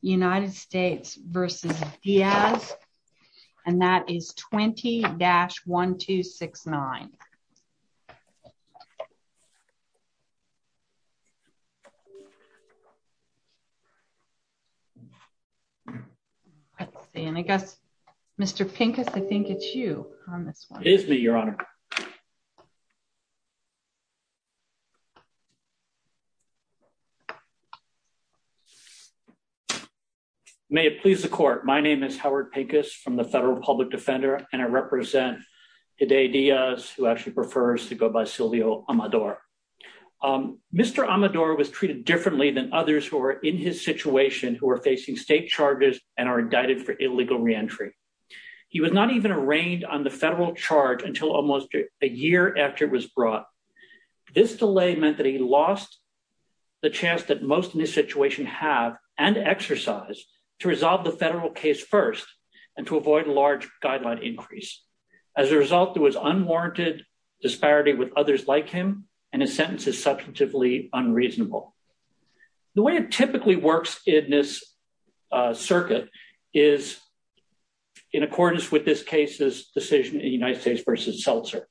United States v. Diaz, and that is 20-1269. Let's see, and I guess Mr. Pincus, I think it's you on this one. It is me, your honor. May it please the court, my name is Howard Pincus from the Federal Public Defender, and I represent Dade Diaz, who actually prefers to go by Silvio Amador. Mr. Amador was treated differently than others who are in his situation, who are facing state charges and are indicted for illegal re-entry. He was not even arraigned on the federal charge until almost a year after it was brought. This delay meant that he lost the chance that most in this situation have, and exercise, to resolve the federal case first and to avoid a large guideline increase. As a result, there was unwarranted disparity with others like him, and his sentence is substantively unreasonable. The way it typically works in this circuit is in accordance with this case's decision in United States v. Seltzer.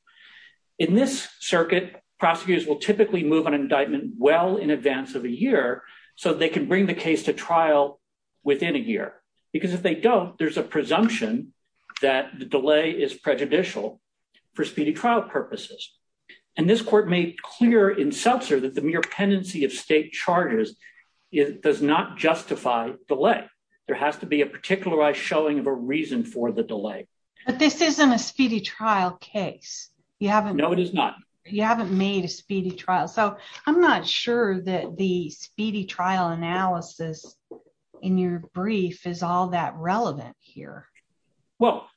In this circuit, prosecutors will typically move an indictment well in advance of a year so they can bring the case to trial within a year, because if they don't, there's a presumption that the delay is prejudicial for speedy trial purposes, and this court made clear in Seltzer that the mere pendency of state charges does not justify delay. There has to be a particularized showing of a reason for the delay. But this isn't a speedy trial case. No, it is not. You haven't made a speedy trial, so I'm not sure that the speedy trial analysis in your brief is all that relevant here. Well,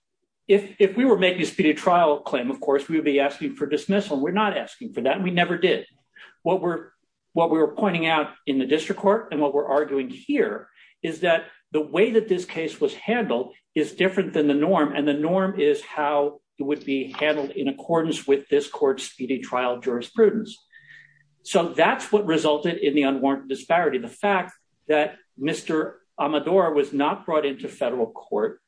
if we were making a speedy trial claim, of course, we would be asking for dismissal. We're not asking for that, and we never did. What we were pointing out in the district court and what we're arguing here is that the way that this case was handled is different than the norm, and the norm is how it would be handled in accordance with this court's speedy trial jurisprudence. So that's what resulted in the unwarranted disparity, the fact that Mr. Amador was not brought into federal court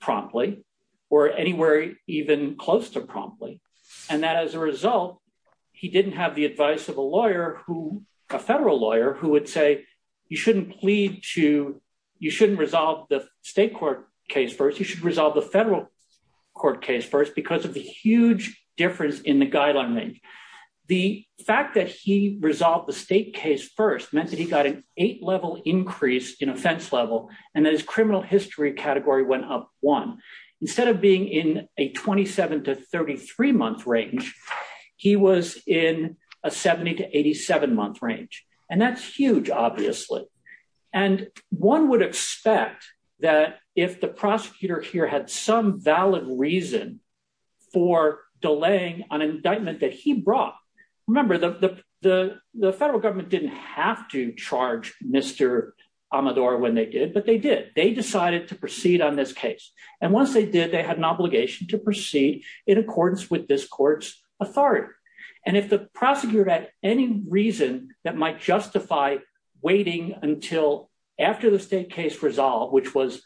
promptly or anywhere even close to promptly, and that as a result, he didn't have the advice of a federal lawyer who would say, you shouldn't resolve the state court case first. You should resolve the federal court case first because of the huge difference in the guideline range. The fact that he resolved the state case first meant that he got an eight-level increase in offense level, and that his criminal history category went up one. Instead of being in a 27 to 33-month range, he was in a 70 to 87-month range, and that's huge, obviously, and one would expect that if the prosecutor here had some valid reason for delaying an indictment that he brought, remember, the federal government didn't have to charge Mr. Amador when they did, but they did. They decided to proceed on this case, and once they did, they had an obligation to proceed in accordance with this court's authority, and if the prosecutor had any reason that might justify waiting until after the state case resolved, which was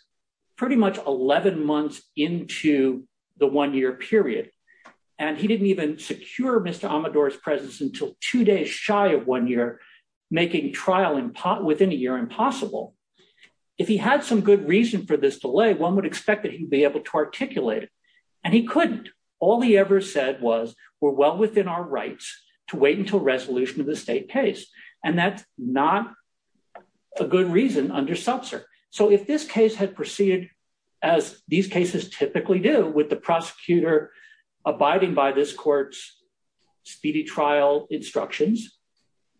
pretty much 11 months into the one-year period, and he didn't even secure Mr. Amador's two days shy of one year, making trial within a year impossible, if he had some good reason for this delay, one would expect that he'd be able to articulate it, and he couldn't. All he ever said was, we're well within our rights to wait until resolution of the state case, and that's not a good reason under SUBSER. So if this case had proceeded as these cases typically do with the obstructions,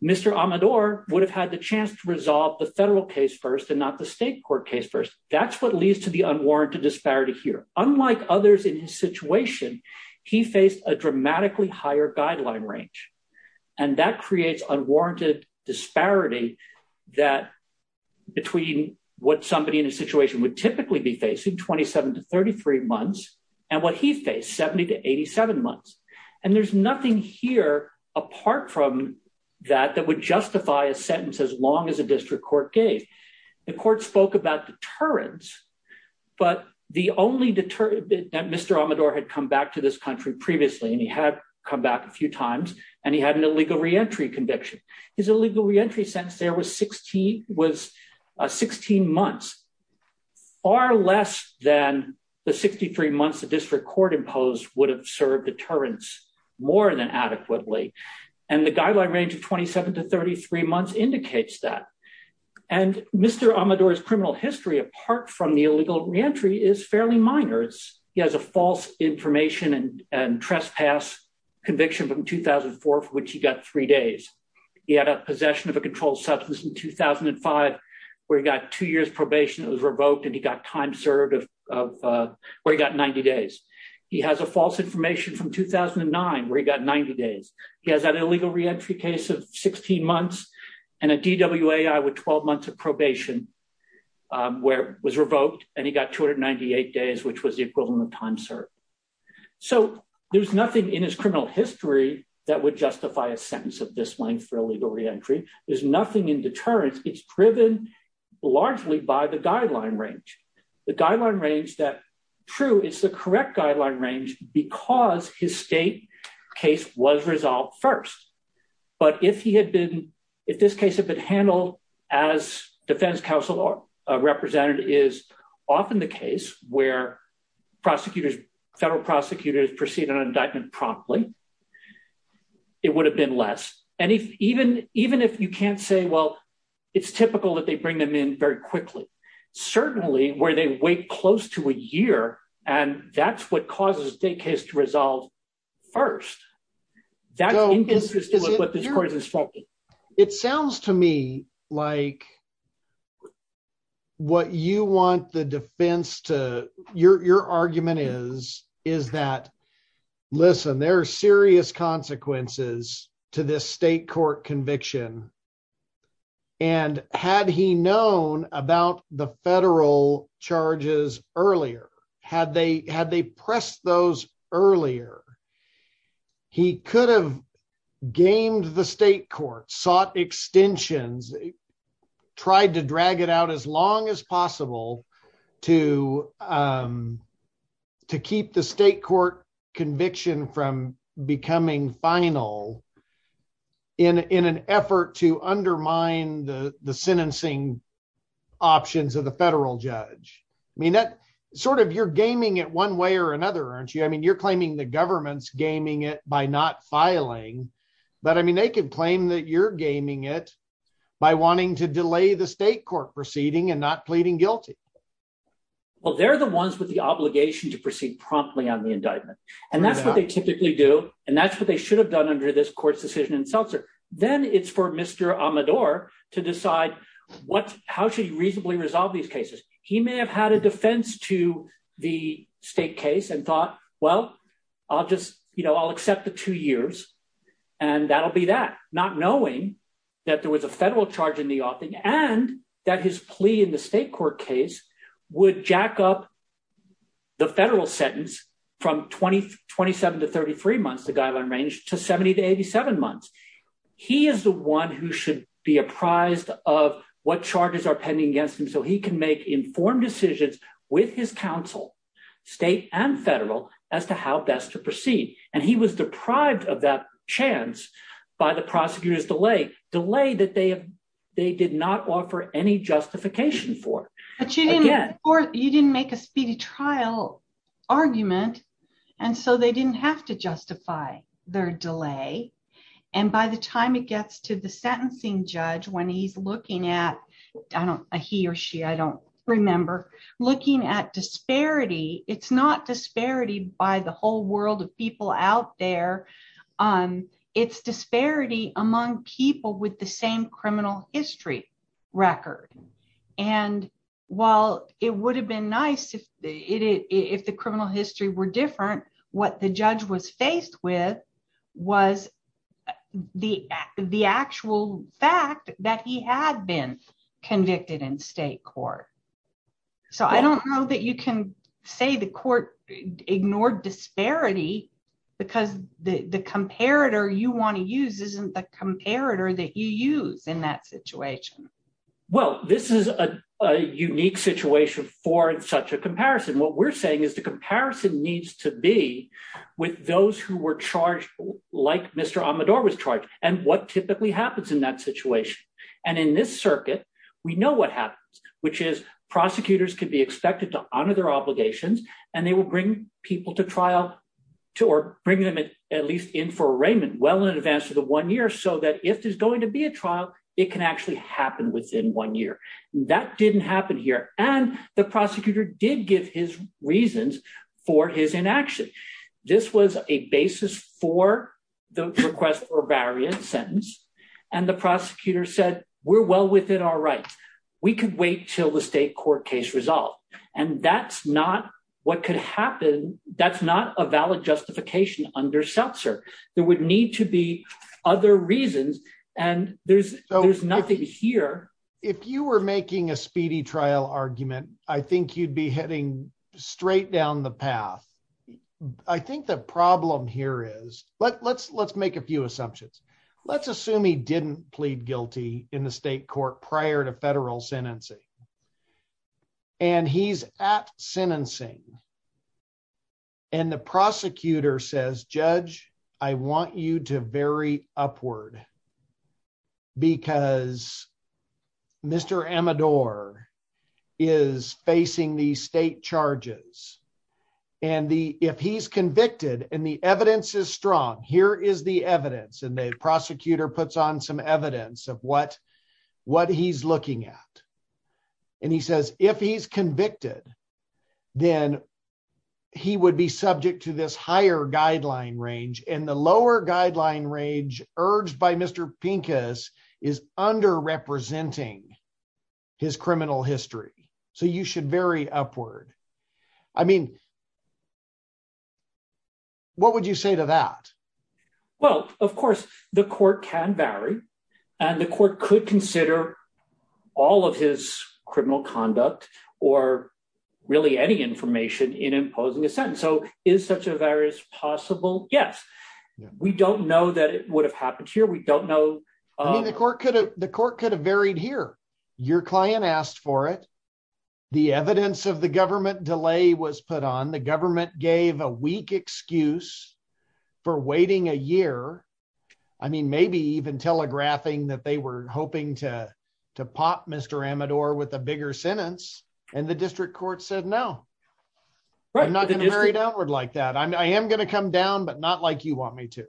Mr. Amador would have had the chance to resolve the federal case first and not the state court case first. That's what leads to the unwarranted disparity here. Unlike others in his situation, he faced a dramatically higher guideline range, and that creates unwarranted disparity that between what somebody in a situation would typically be facing, 27 to 33 months, and what he faced, 70 to 87 months, and there's nothing here apart from that that would justify a sentence as long as a district court gave. The court spoke about deterrence, but the only deterrent that Mr. Amador had come back to this country previously, and he had come back a few times, and he had an illegal re-entry conviction. His illegal re-entry sentence there was 16 months, far less than the 63 months the district court imposed would have served deterrence more than adequately, and the guideline range of 27 to 33 months indicates that. And Mr. Amador's criminal history apart from the illegal re-entry is fairly minor. He has a false information and trespass conviction from 2004 for which he got three days. He had a possession of a that was revoked and he got time served where he got 90 days. He has a false information from 2009 where he got 90 days. He has that illegal re-entry case of 16 months and a DWAI with 12 months of probation where it was revoked and he got 298 days which was the equivalent of time served. So there's nothing in his criminal history that would justify a sentence of this length for the guideline range. The guideline range that true is the correct guideline range because his state case was resolved first. But if he had been if this case had been handled as defense counsel represented is often the case where prosecutors federal prosecutors proceed an indictment promptly it would have been less. And if even even if you can't say well it's typical that they bring them in very quickly certainly where they wait close to a year and that's what causes the case to resolve first that's what this court is talking. It sounds to me like what you want the defense to your your argument is is that listen there are serious consequences to this state court conviction and had he known about the federal charges earlier had they had they pressed those earlier he could have gamed the state court sought extensions tried to drag it out as long as possible to to keep the state court conviction from becoming final in in an effort to undermine the the sentencing options of the federal judge. I mean that sort of you're gaming it one way or another aren't you I mean you're claiming the government's gaming it by not filing but I mean they could claim that you're gaming it by wanting to delay the state court proceeding and not pleading guilty. Well they're the ones with the obligation to proceed promptly on the indictment and that's they typically do and that's what they should have done under this court's decision in Seltzer. Then it's for Mr. Amador to decide what how should he reasonably resolve these cases. He may have had a defense to the state case and thought well I'll just you know I'll accept the two years and that'll be that not knowing that there was a federal charge in the offing and that his plea in the state court case would jack up the federal sentence from 2027 to 33 months the guideline range to 70 to 87 months. He is the one who should be apprised of what charges are pending against him so he can make informed decisions with his counsel state and federal as to how best to proceed and he was deprived of that chance by the prosecutor's delay. Delay that they have they did not offer any justification for. But you didn't or you didn't make a speedy trial argument and so they didn't have to justify their delay and by the time it gets to the sentencing judge when he's looking at I don't he or she I don't remember looking at disparity it's not disparity by the whole world of people out there. It's disparity among people with the same criminal history record and while it would have been nice if the criminal history were different what the judge was faced with was the the actual fact that he had been convicted in state court. So I don't know that you can say the court ignored disparity because the the comparator you want to use isn't the comparator that you use in that situation. Well this is a unique situation for such a comparison what we're saying is the comparison needs to be with those who were charged like Mr. Amador was charged and what typically happens in that situation and in this circuit we know what happens which is prosecutors can be expected to honor their obligations and they will bring people to trial to or bring them at least in for arraignment well in advance of the one year so that if there's going to be a trial it can actually happen within one year. That didn't happen here and the prosecutor did give his reasons for his inaction. This was a basis for the request for wait till the state court case resolved and that's not what could happen that's not a valid justification under Seltzer. There would need to be other reasons and there's there's nothing here. If you were making a speedy trial argument I think you'd be heading straight down the path. I think the problem here is let's let's make a few assumptions. Let's assume he didn't plead guilty in the state court prior to federal sentencing and he's at sentencing and the prosecutor says judge I want you to vary upward because Mr. Amador is facing these state charges and the if he's convicted and the evidence is strong here is the evidence and the prosecutor puts on some evidence of what what he's looking at and he says if he's convicted then he would be subject to this higher guideline range and the lower guideline range urged by Mr. Pincus is under representing his criminal history so you should vary upward. I mean what would you say to that? Well of course the court can vary and the court could consider all of his criminal conduct or really any information in imposing a sentence. So is such a virus possible? Yes. We don't know that it would have happened here. We don't know. I mean the court could have varied here. Your client asked for it. The evidence of the government delay was put on. The government gave a weak excuse for waiting a year. I mean maybe even telegraphing that they were hoping to to pop Mr. Amador with a bigger sentence and the district court said no. I'm not going to vary downward like that. I am going to come down but not like you want me to.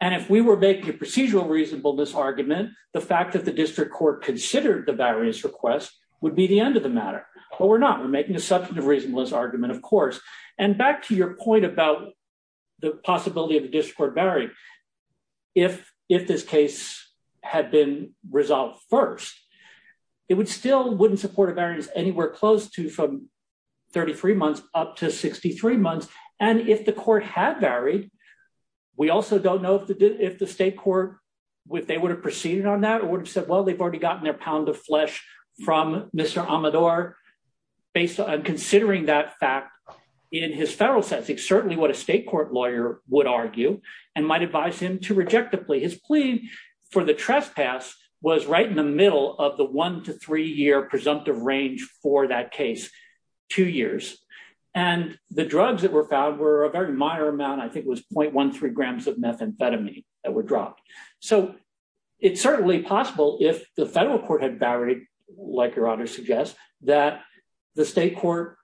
And if we were making a procedural reasonableness argument the fact that the district court considered the variance request would be the end of the matter. But we're not. We're making a substantive reasonableness argument of course. And back to your point about the possibility of the district court varying. If this case had been resolved first it would still wouldn't support a from 33 months up to 63 months. And if the court had varied we also don't know if the if the state court if they would have proceeded on that or would have said well they've already gotten their pound of flesh from Mr. Amador based on considering that fact in his federal sentencing. Certainly what a state court lawyer would argue and might advise him to rejectably. His plea for the trespass was right in the middle of the one to three year presumptive range for that case. Two years. And the drugs that were found were a very minor amount. I think it was 0.13 grams of methamphetamine that were dropped. So it's certainly possible if the federal court had varied like your honor suggests that the state court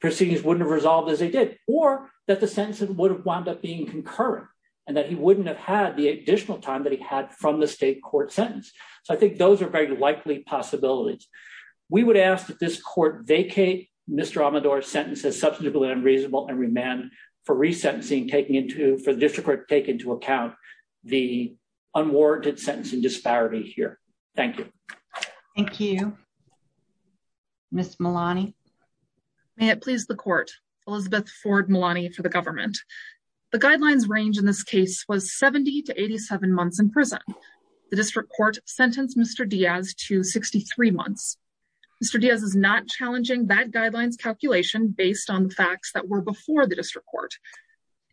proceedings wouldn't have resolved as they did or that the sentence would have wound up being concurrent and that he wouldn't have had the additional time that he had from the state court sentence. So I think those are very likely possibilities. We would ask that this court vacate Mr. Amador's sentence as substantively unreasonable and remand for resentencing taking into for the district court to take into account the unwarranted sentencing disparity here. Thank you. Thank you. Ms. Malani. May it please the court. Elizabeth Ford Malani for the government. The guidelines range in this case was 70 to 87 months in prison. The district court sentenced Mr. Diaz to 63 months. Mr. Diaz is not challenging that guidelines calculation based on the facts that were before the district court.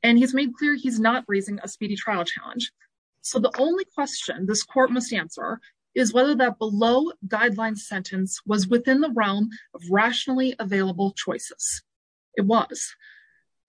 And he's made clear he's not raising a speedy trial challenge. So the only question this court must answer is whether that below guidelines sentence was within the realm of rationally available choices. It was.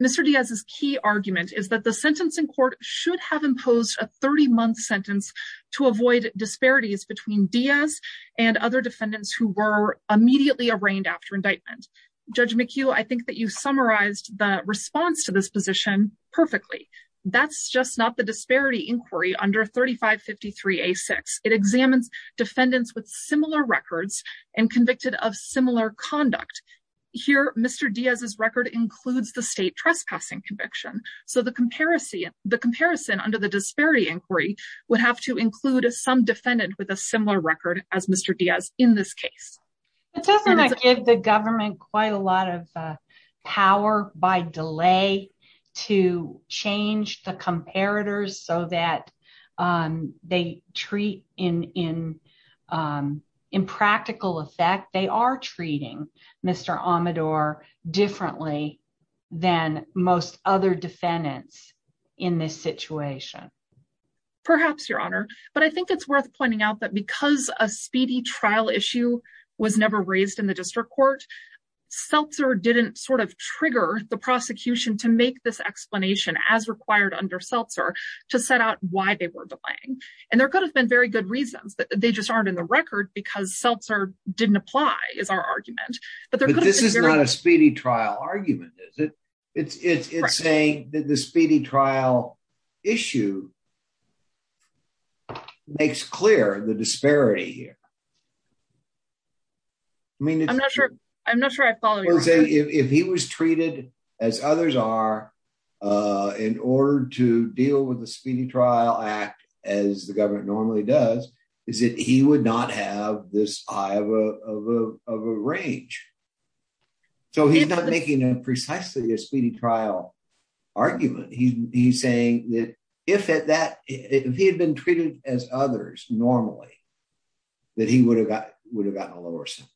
Mr. Diaz's key argument is that the sentence in court should have imposed a 30-month sentence to avoid disparities between Diaz and other defendants who were immediately arraigned after indictment. Judge McHugh, I think that you summarized the response to this position perfectly. That's just not the disparity inquiry under 3553A6. It examines defendants with similar records and convicted of similar conduct. Here Mr. Diaz's record includes the state trespassing conviction. So the comparison under the disparity inquiry would have to include some defendant with a similar record as Mr. Diaz in this case. It doesn't give the government quite a lot of power by delay to change the comparators so that they treat in practical effect. They are treating Mr. Amador differently than most other defendants in this situation. Perhaps, Your Honor, but I think it's worth pointing out that because a speedy trial issue was never raised in the district court, Seltzer didn't sort of trigger the prosecution to make this explanation as required under Seltzer to set out why they were delaying. There could have been very good reasons, but they just aren't in the record because Seltzer didn't apply is our argument. But this is not a speedy trial argument, is it? It's saying that the speedy trial issue makes clear the disparity here. I mean, I'm not sure. I'm not sure I follow. I would say if he was treated as others are in order to deal with the speedy trial act as the government normally does, is that he would not have this eye of a range. So he's not making a precisely a speedy trial argument. He's saying if he had been treated as others normally, that he would have gotten a lower sentence.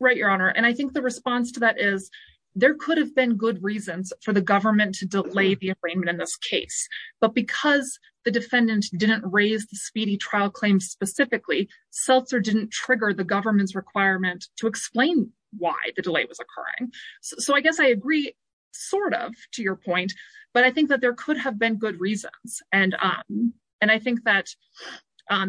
Right, Your Honor. And I think the response to that is there could have been good reasons for the government to delay the arraignment in this case. But because the defendant didn't raise the speedy trial claim specifically, Seltzer didn't trigger the government's requirement to explain why the delay was occurring. So I guess I agree sort of to your point, but I think that there could have been good reasons. And I think that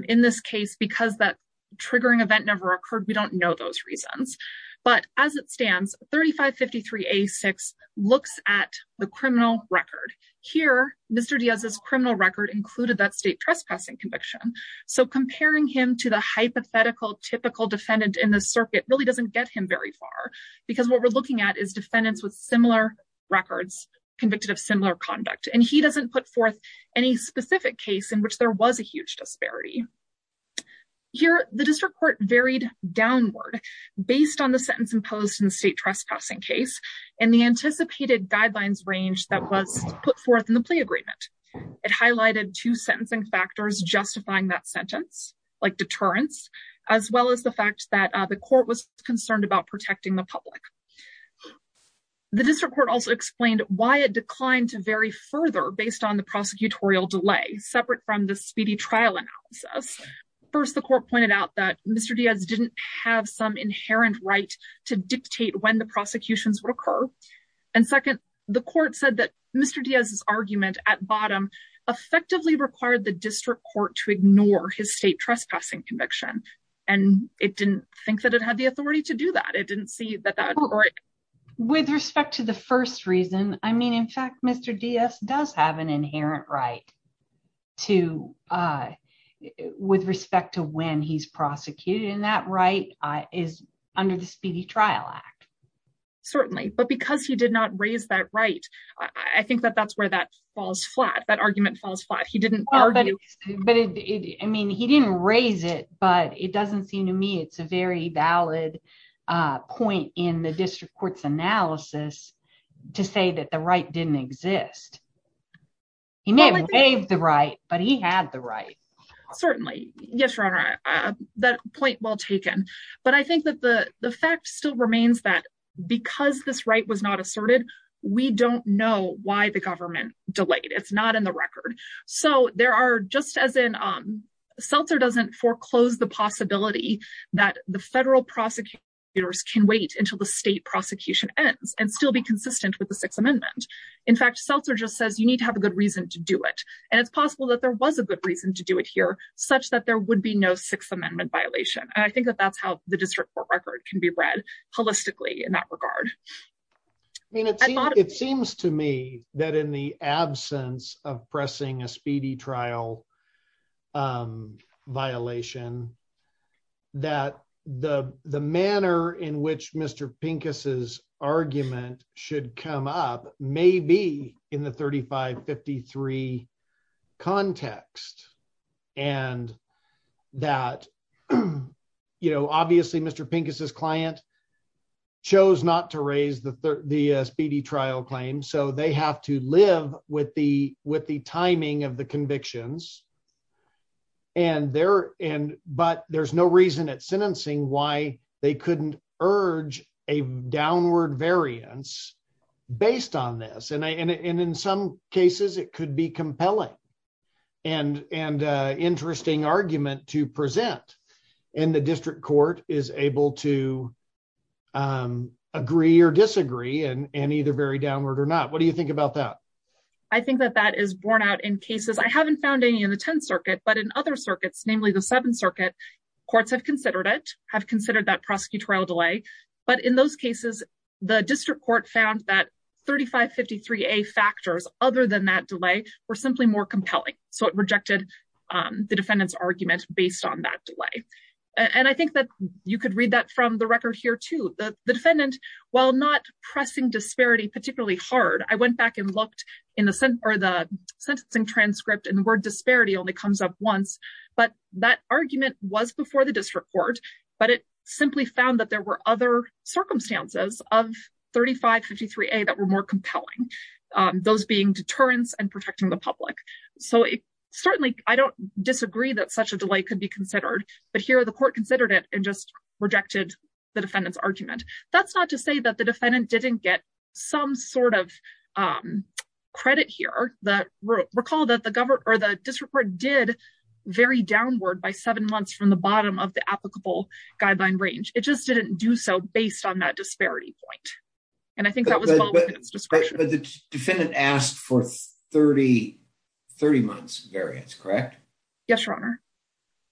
in this case, because that triggering event never occurred, we don't know those reasons. But as it stands, 3553A6 looks at the criminal record. Here, Mr. Diaz's criminal record included that state trespassing conviction. So comparing him to the hypothetical typical defendant in the circuit really doesn't get him very far. Because what we're looking at is defendants with similar records, convicted of similar conduct. And he doesn't put forth any specific case in which there was a huge disparity. Here, the district court varied downward based on the sentence imposed in the state trespassing case, and the anticipated guidelines range that was put forth in the plea agreement. It highlighted two sentencing factors justifying that sentence, like deterrence, as well as the fact that the court was concerned about protecting the public. The district court also explained why it declined to vary further based on the prosecutorial delay, separate from the speedy trial analysis. First, the court pointed out that Mr. Diaz didn't have some inherent right to dictate when the prosecutions would occur. And second, the court said that Mr. Diaz's argument at bottom effectively required the district court to ignore his state trespassing conviction. And it didn't think that it had the authority to do that. It didn't see that. With respect to the first reason, I mean, in fact, Mr. Diaz does have an inherent right to, with respect to when he's prosecuted, and that right is under the Speedy Trial Act. Certainly. But because he did not raise that right, I think that that's where that falls flat. That argument falls flat. He didn't argue. But I mean, he didn't raise it, but it the district court's analysis to say that the right didn't exist. He may have waived the right, but he had the right. Certainly. Yes, Your Honor, that point well taken. But I think that the fact still remains that because this right was not asserted, we don't know why the government delayed. It's not in the record. So there are, just as in, Seltzer doesn't foreclose the possibility that the federal prosecutors can wait until the state prosecution ends and still be consistent with the Sixth Amendment. In fact, Seltzer just says you need to have a good reason to do it. And it's possible that there was a good reason to do it here, such that there would be no Sixth Amendment violation. And I think that that's how the district court record can be read holistically in that regard. I mean, it seems to me that in the case of the SPD trial, there is a possibility that the manner in which Mr. Pincus' argument should come up may be in the 3553 context. And that, you know, obviously Mr. Pincus' client chose not to raise the SPD trial claim. So they have to live with the timing of the convictions. And there, but there's no reason at sentencing why they couldn't urge a downward variance based on this. And in some cases, it could be compelling and interesting argument to present. And the district court is able to agree or disagree and either very downward or not. What do you think about that? I think that that is borne out in cases. I haven't found any in the Tenth Circuit, but in other circuits, namely the Seventh Circuit, courts have considered it, have considered that prosecutorial delay. But in those cases, the district court found that 3553A factors other than that delay were simply more compelling. So it rejected the defendant's argument based on that delay. And I think that you could read that from the record here too. The defendant, while not pressing disparity particularly hard, I went back and looked in the sentencing transcript and the word disparity only comes up once, but that argument was before the district court, but it simply found that there were other circumstances of 3553A that were more compelling, those being deterrence and protecting the public. So certainly, I don't disagree that such a delay could be considered, but here the court considered it and just rejected the defendant's argument. That's not to say that the defendant didn't get some sort of credit here, but recall that the district court did vary downward by seven months from the bottom of the applicable guideline range. It just didn't do so based on that disparity point. And I think that was well within its discretion. But the defendant asked for 30 months variance, correct? Yes, Your Honor.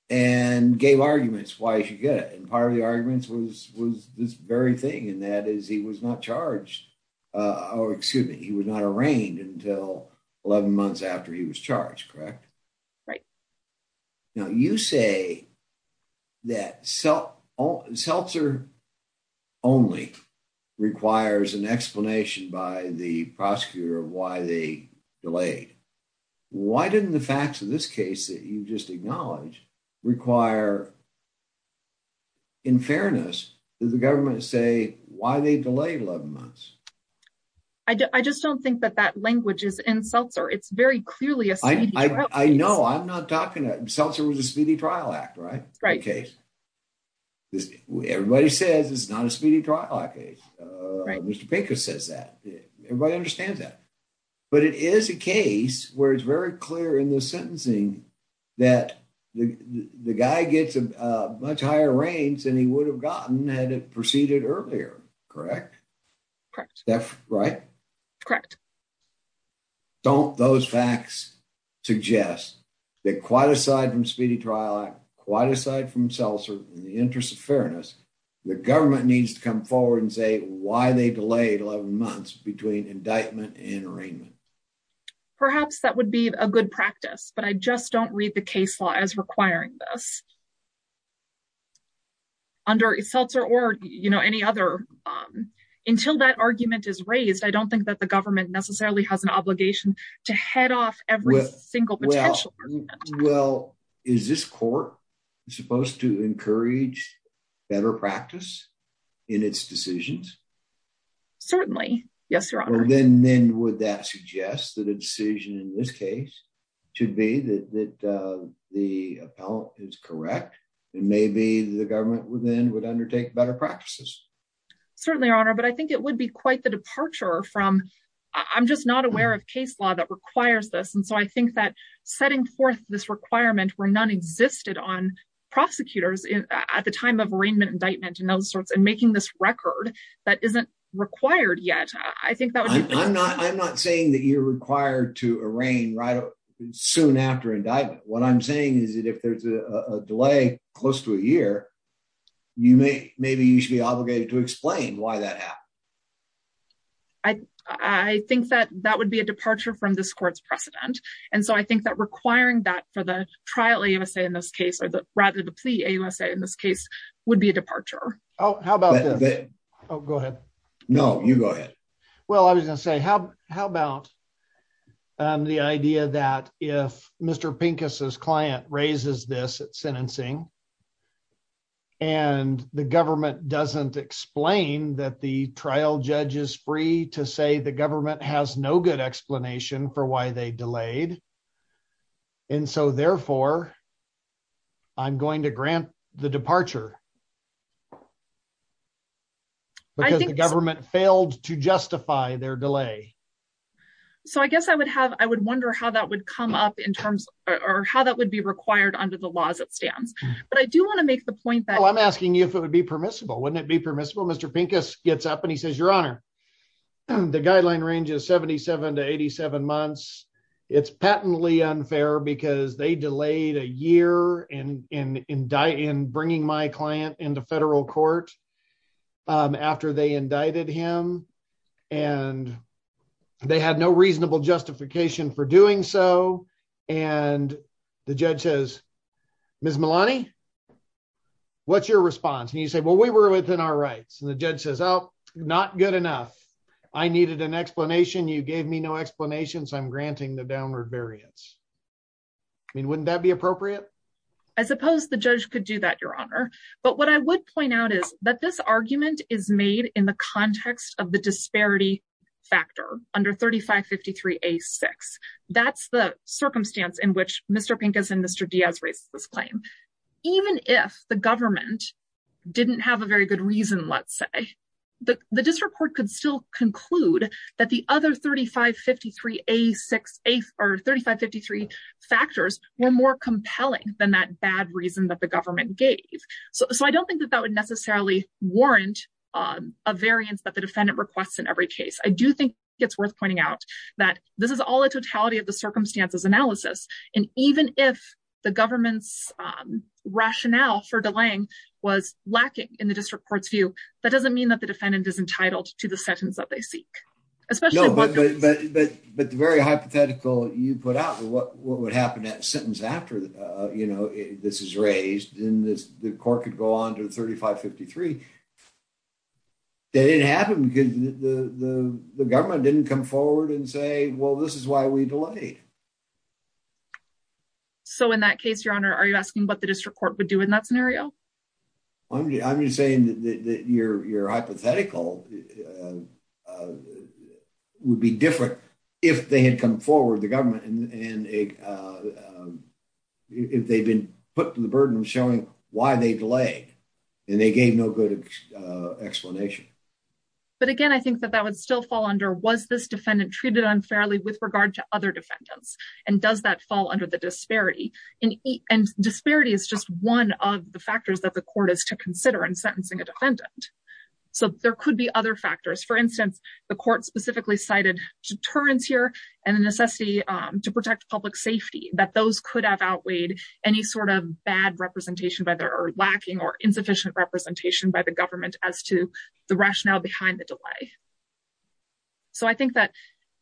And gave arguments why he should get it. And part arguments was this very thing, and that is he was not charged, or excuse me, he was not arraigned until 11 months after he was charged, correct? Right. Now you say that seltzer only requires an explanation by the prosecutor of why they delayed. Why didn't the facts of this case that you've just acknowledged require, in fairness, did the government say why they delayed 11 months? I just don't think that that language is in seltzer. It's very clearly a speedy trial case. I know. I'm not talking that. Seltzer was a speedy trial act, right? Right. Everybody says it's not a speedy trial act case. Right. Mr. Pinker says that. Everybody understands that. But it is a case where it's very clear in the sentencing that the guy gets a much higher range than he would have gotten had it proceeded earlier, correct? Correct. That's right? Correct. Don't those facts suggest that quite aside from speedy trial act, quite aside from seltzer, in the interest of fairness, the government needs to come forward and say why they delayed 11 months between indictment and arraignment? Perhaps that would be a good practice, but I just don't read the case law as requiring this under seltzer or, you know, any other. Until that argument is raised, I don't think that the government necessarily has an obligation to head off every single potential. Well, is this court supposed to encourage better practice in its decisions? Certainly. Yes, your honor. Then then would that suggest that a decision in this case should be that the appellate is correct, and maybe the government would then would undertake better practices? Certainly, your honor. But I think it would be quite the departure from I'm just not aware of case law that requires this, and so I think that setting forth this requirement where none existed on prosecutors at the time of arraignment indictment and those sorts and making this record that isn't required yet. I think that I'm not. I'm not saying that you're required to arraign right soon after indictment. What I'm saying is that if there's a delay close to a year, you may. Maybe you should be obligated to explain why that happened. I, I think that that would be a departure from this court's precedent, and so I think that requiring that for the trial USA in this case, or the rather the plea USA in this case would be a departure. Oh, how about that? Oh, go ahead. No, you go ahead. Well, I was going to say how. How about the idea that if Mr Pincus's client raises this at sentencing. And the government doesn't explain that the trial judge is free to say the government has no good explanation for why they delayed. And so therefore. I'm going to grant the departure. Because the government failed to justify their delay. So I guess I would have. I would wonder how that would come up in terms or how that would be required under the laws. It stands, but I do want to make the point that I'm asking you if it would permissible, wouldn't it be permissible? Mr Pincus gets up and he says, Your Honor, the guideline range is 77 to 87 months. It's patently unfair because they delayed a year and in indict in bringing my client into federal court. After they indicted him and they had no reasonable justification for doing so. And the judge says, Miss Malani. What's your response? And you say, well, we were within our rights and the judge says, Oh, not good enough. I needed an explanation. You gave me no explanations. I'm granting the downward variance. I mean, wouldn't that be appropriate? I suppose the judge could do that, Your Honor. But what I would point out is that this argument is made in the context of the disparity factor under 3553 A6. That's the circumstance in which Mr Pincus and Mr Diaz raised this claim. Even if the government didn't have a very good reason, let's say the district court could still conclude that the other 3553 A6 or 3553 factors were more compelling than that bad reason that the government gave. So I don't think that that would necessarily warrant a variance that the defendant requests in every case. I do think it's worth pointing out that this is all a totality of the circumstances analysis. And even if the government's rationale for delaying was lacking in the district court's view, that doesn't mean that the defendant is entitled to the sentence that they seek. But the very hypothetical you put out what would happen at sentence after this is raised in this, the court could go on to 3553. That didn't happen because the government didn't come forward and say, well, this is why we delayed. So in that case, Your Honor, are you asking what the district court would do in that scenario? I'm just saying that your hypothetical would be different if they had come forward, the government, and if they've been put to the burden of showing why they delayed and they gave no good explanation. But again, I think that that would still fall under was this defendant treated unfairly with regard to other defendants? And does that fall under the disparity? And disparity is just one of the factors that the court is to consider in sentencing a defendant. So there could be other factors. For instance, the court specifically cited deterrence here and the necessity to protect public safety, that those could have outweighed any sort of bad representation by their lacking or insufficient representation by the government as to the rationale behind the delay. So I think that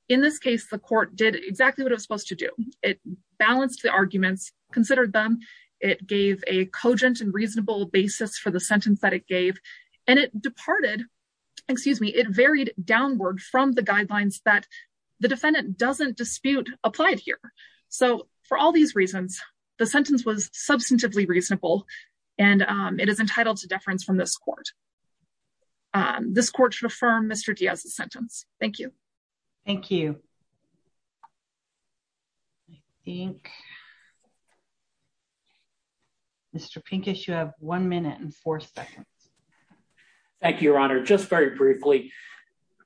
in this case, the court did exactly what it was supposed to do. It balanced the arguments, considered them, it gave a cogent and reasonable basis for the sentence that it gave. And it departed, excuse me, it varied downward from the guidelines that the defendant doesn't dispute applied here. So for all these reasons, the sentence was substantively reasonable. And it is entitled to deference from this court. This court should affirm Mr. Diaz's sentence. Thank you. Thank you. Mr. Pincus, you have one minute and four seconds. Thank you, Your Honor. Just very briefly,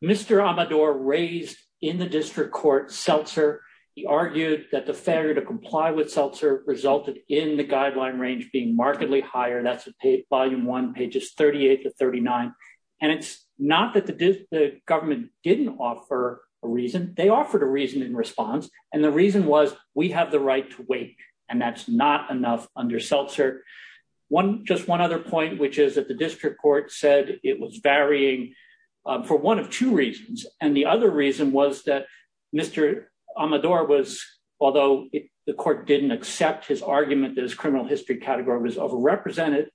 Mr. Amador raised in the district court seltzer. He argued that the failure to comply with seltzer resulted in the guideline range being markedly higher. That's volume one, pages 38 to 39. And it's not that the government didn't offer a reason, they offered a reason in response. And the reason was we have the right to wait. And that's not under seltzer. One, just one other point, which is that the district court said it was varying for one of two reasons. And the other reason was that Mr. Amador was, although the court didn't accept his argument that his criminal history category was overrepresented.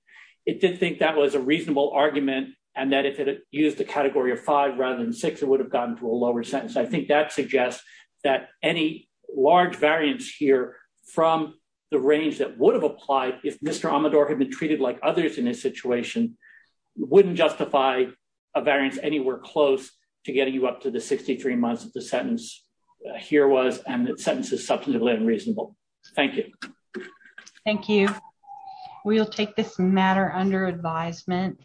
It did think that was a reasonable argument. And that if it used the category of five, rather than six, it would have gotten to a lower sentence. I think that suggests that any large variance here from the range that would have applied if Mr. Amador had been treated like others in this situation, wouldn't justify a variance anywhere close to getting you up to the 63 months that the sentence here was, and that sentence is substantively unreasonable. Thank you. Thank you. We'll take this matter under advisement.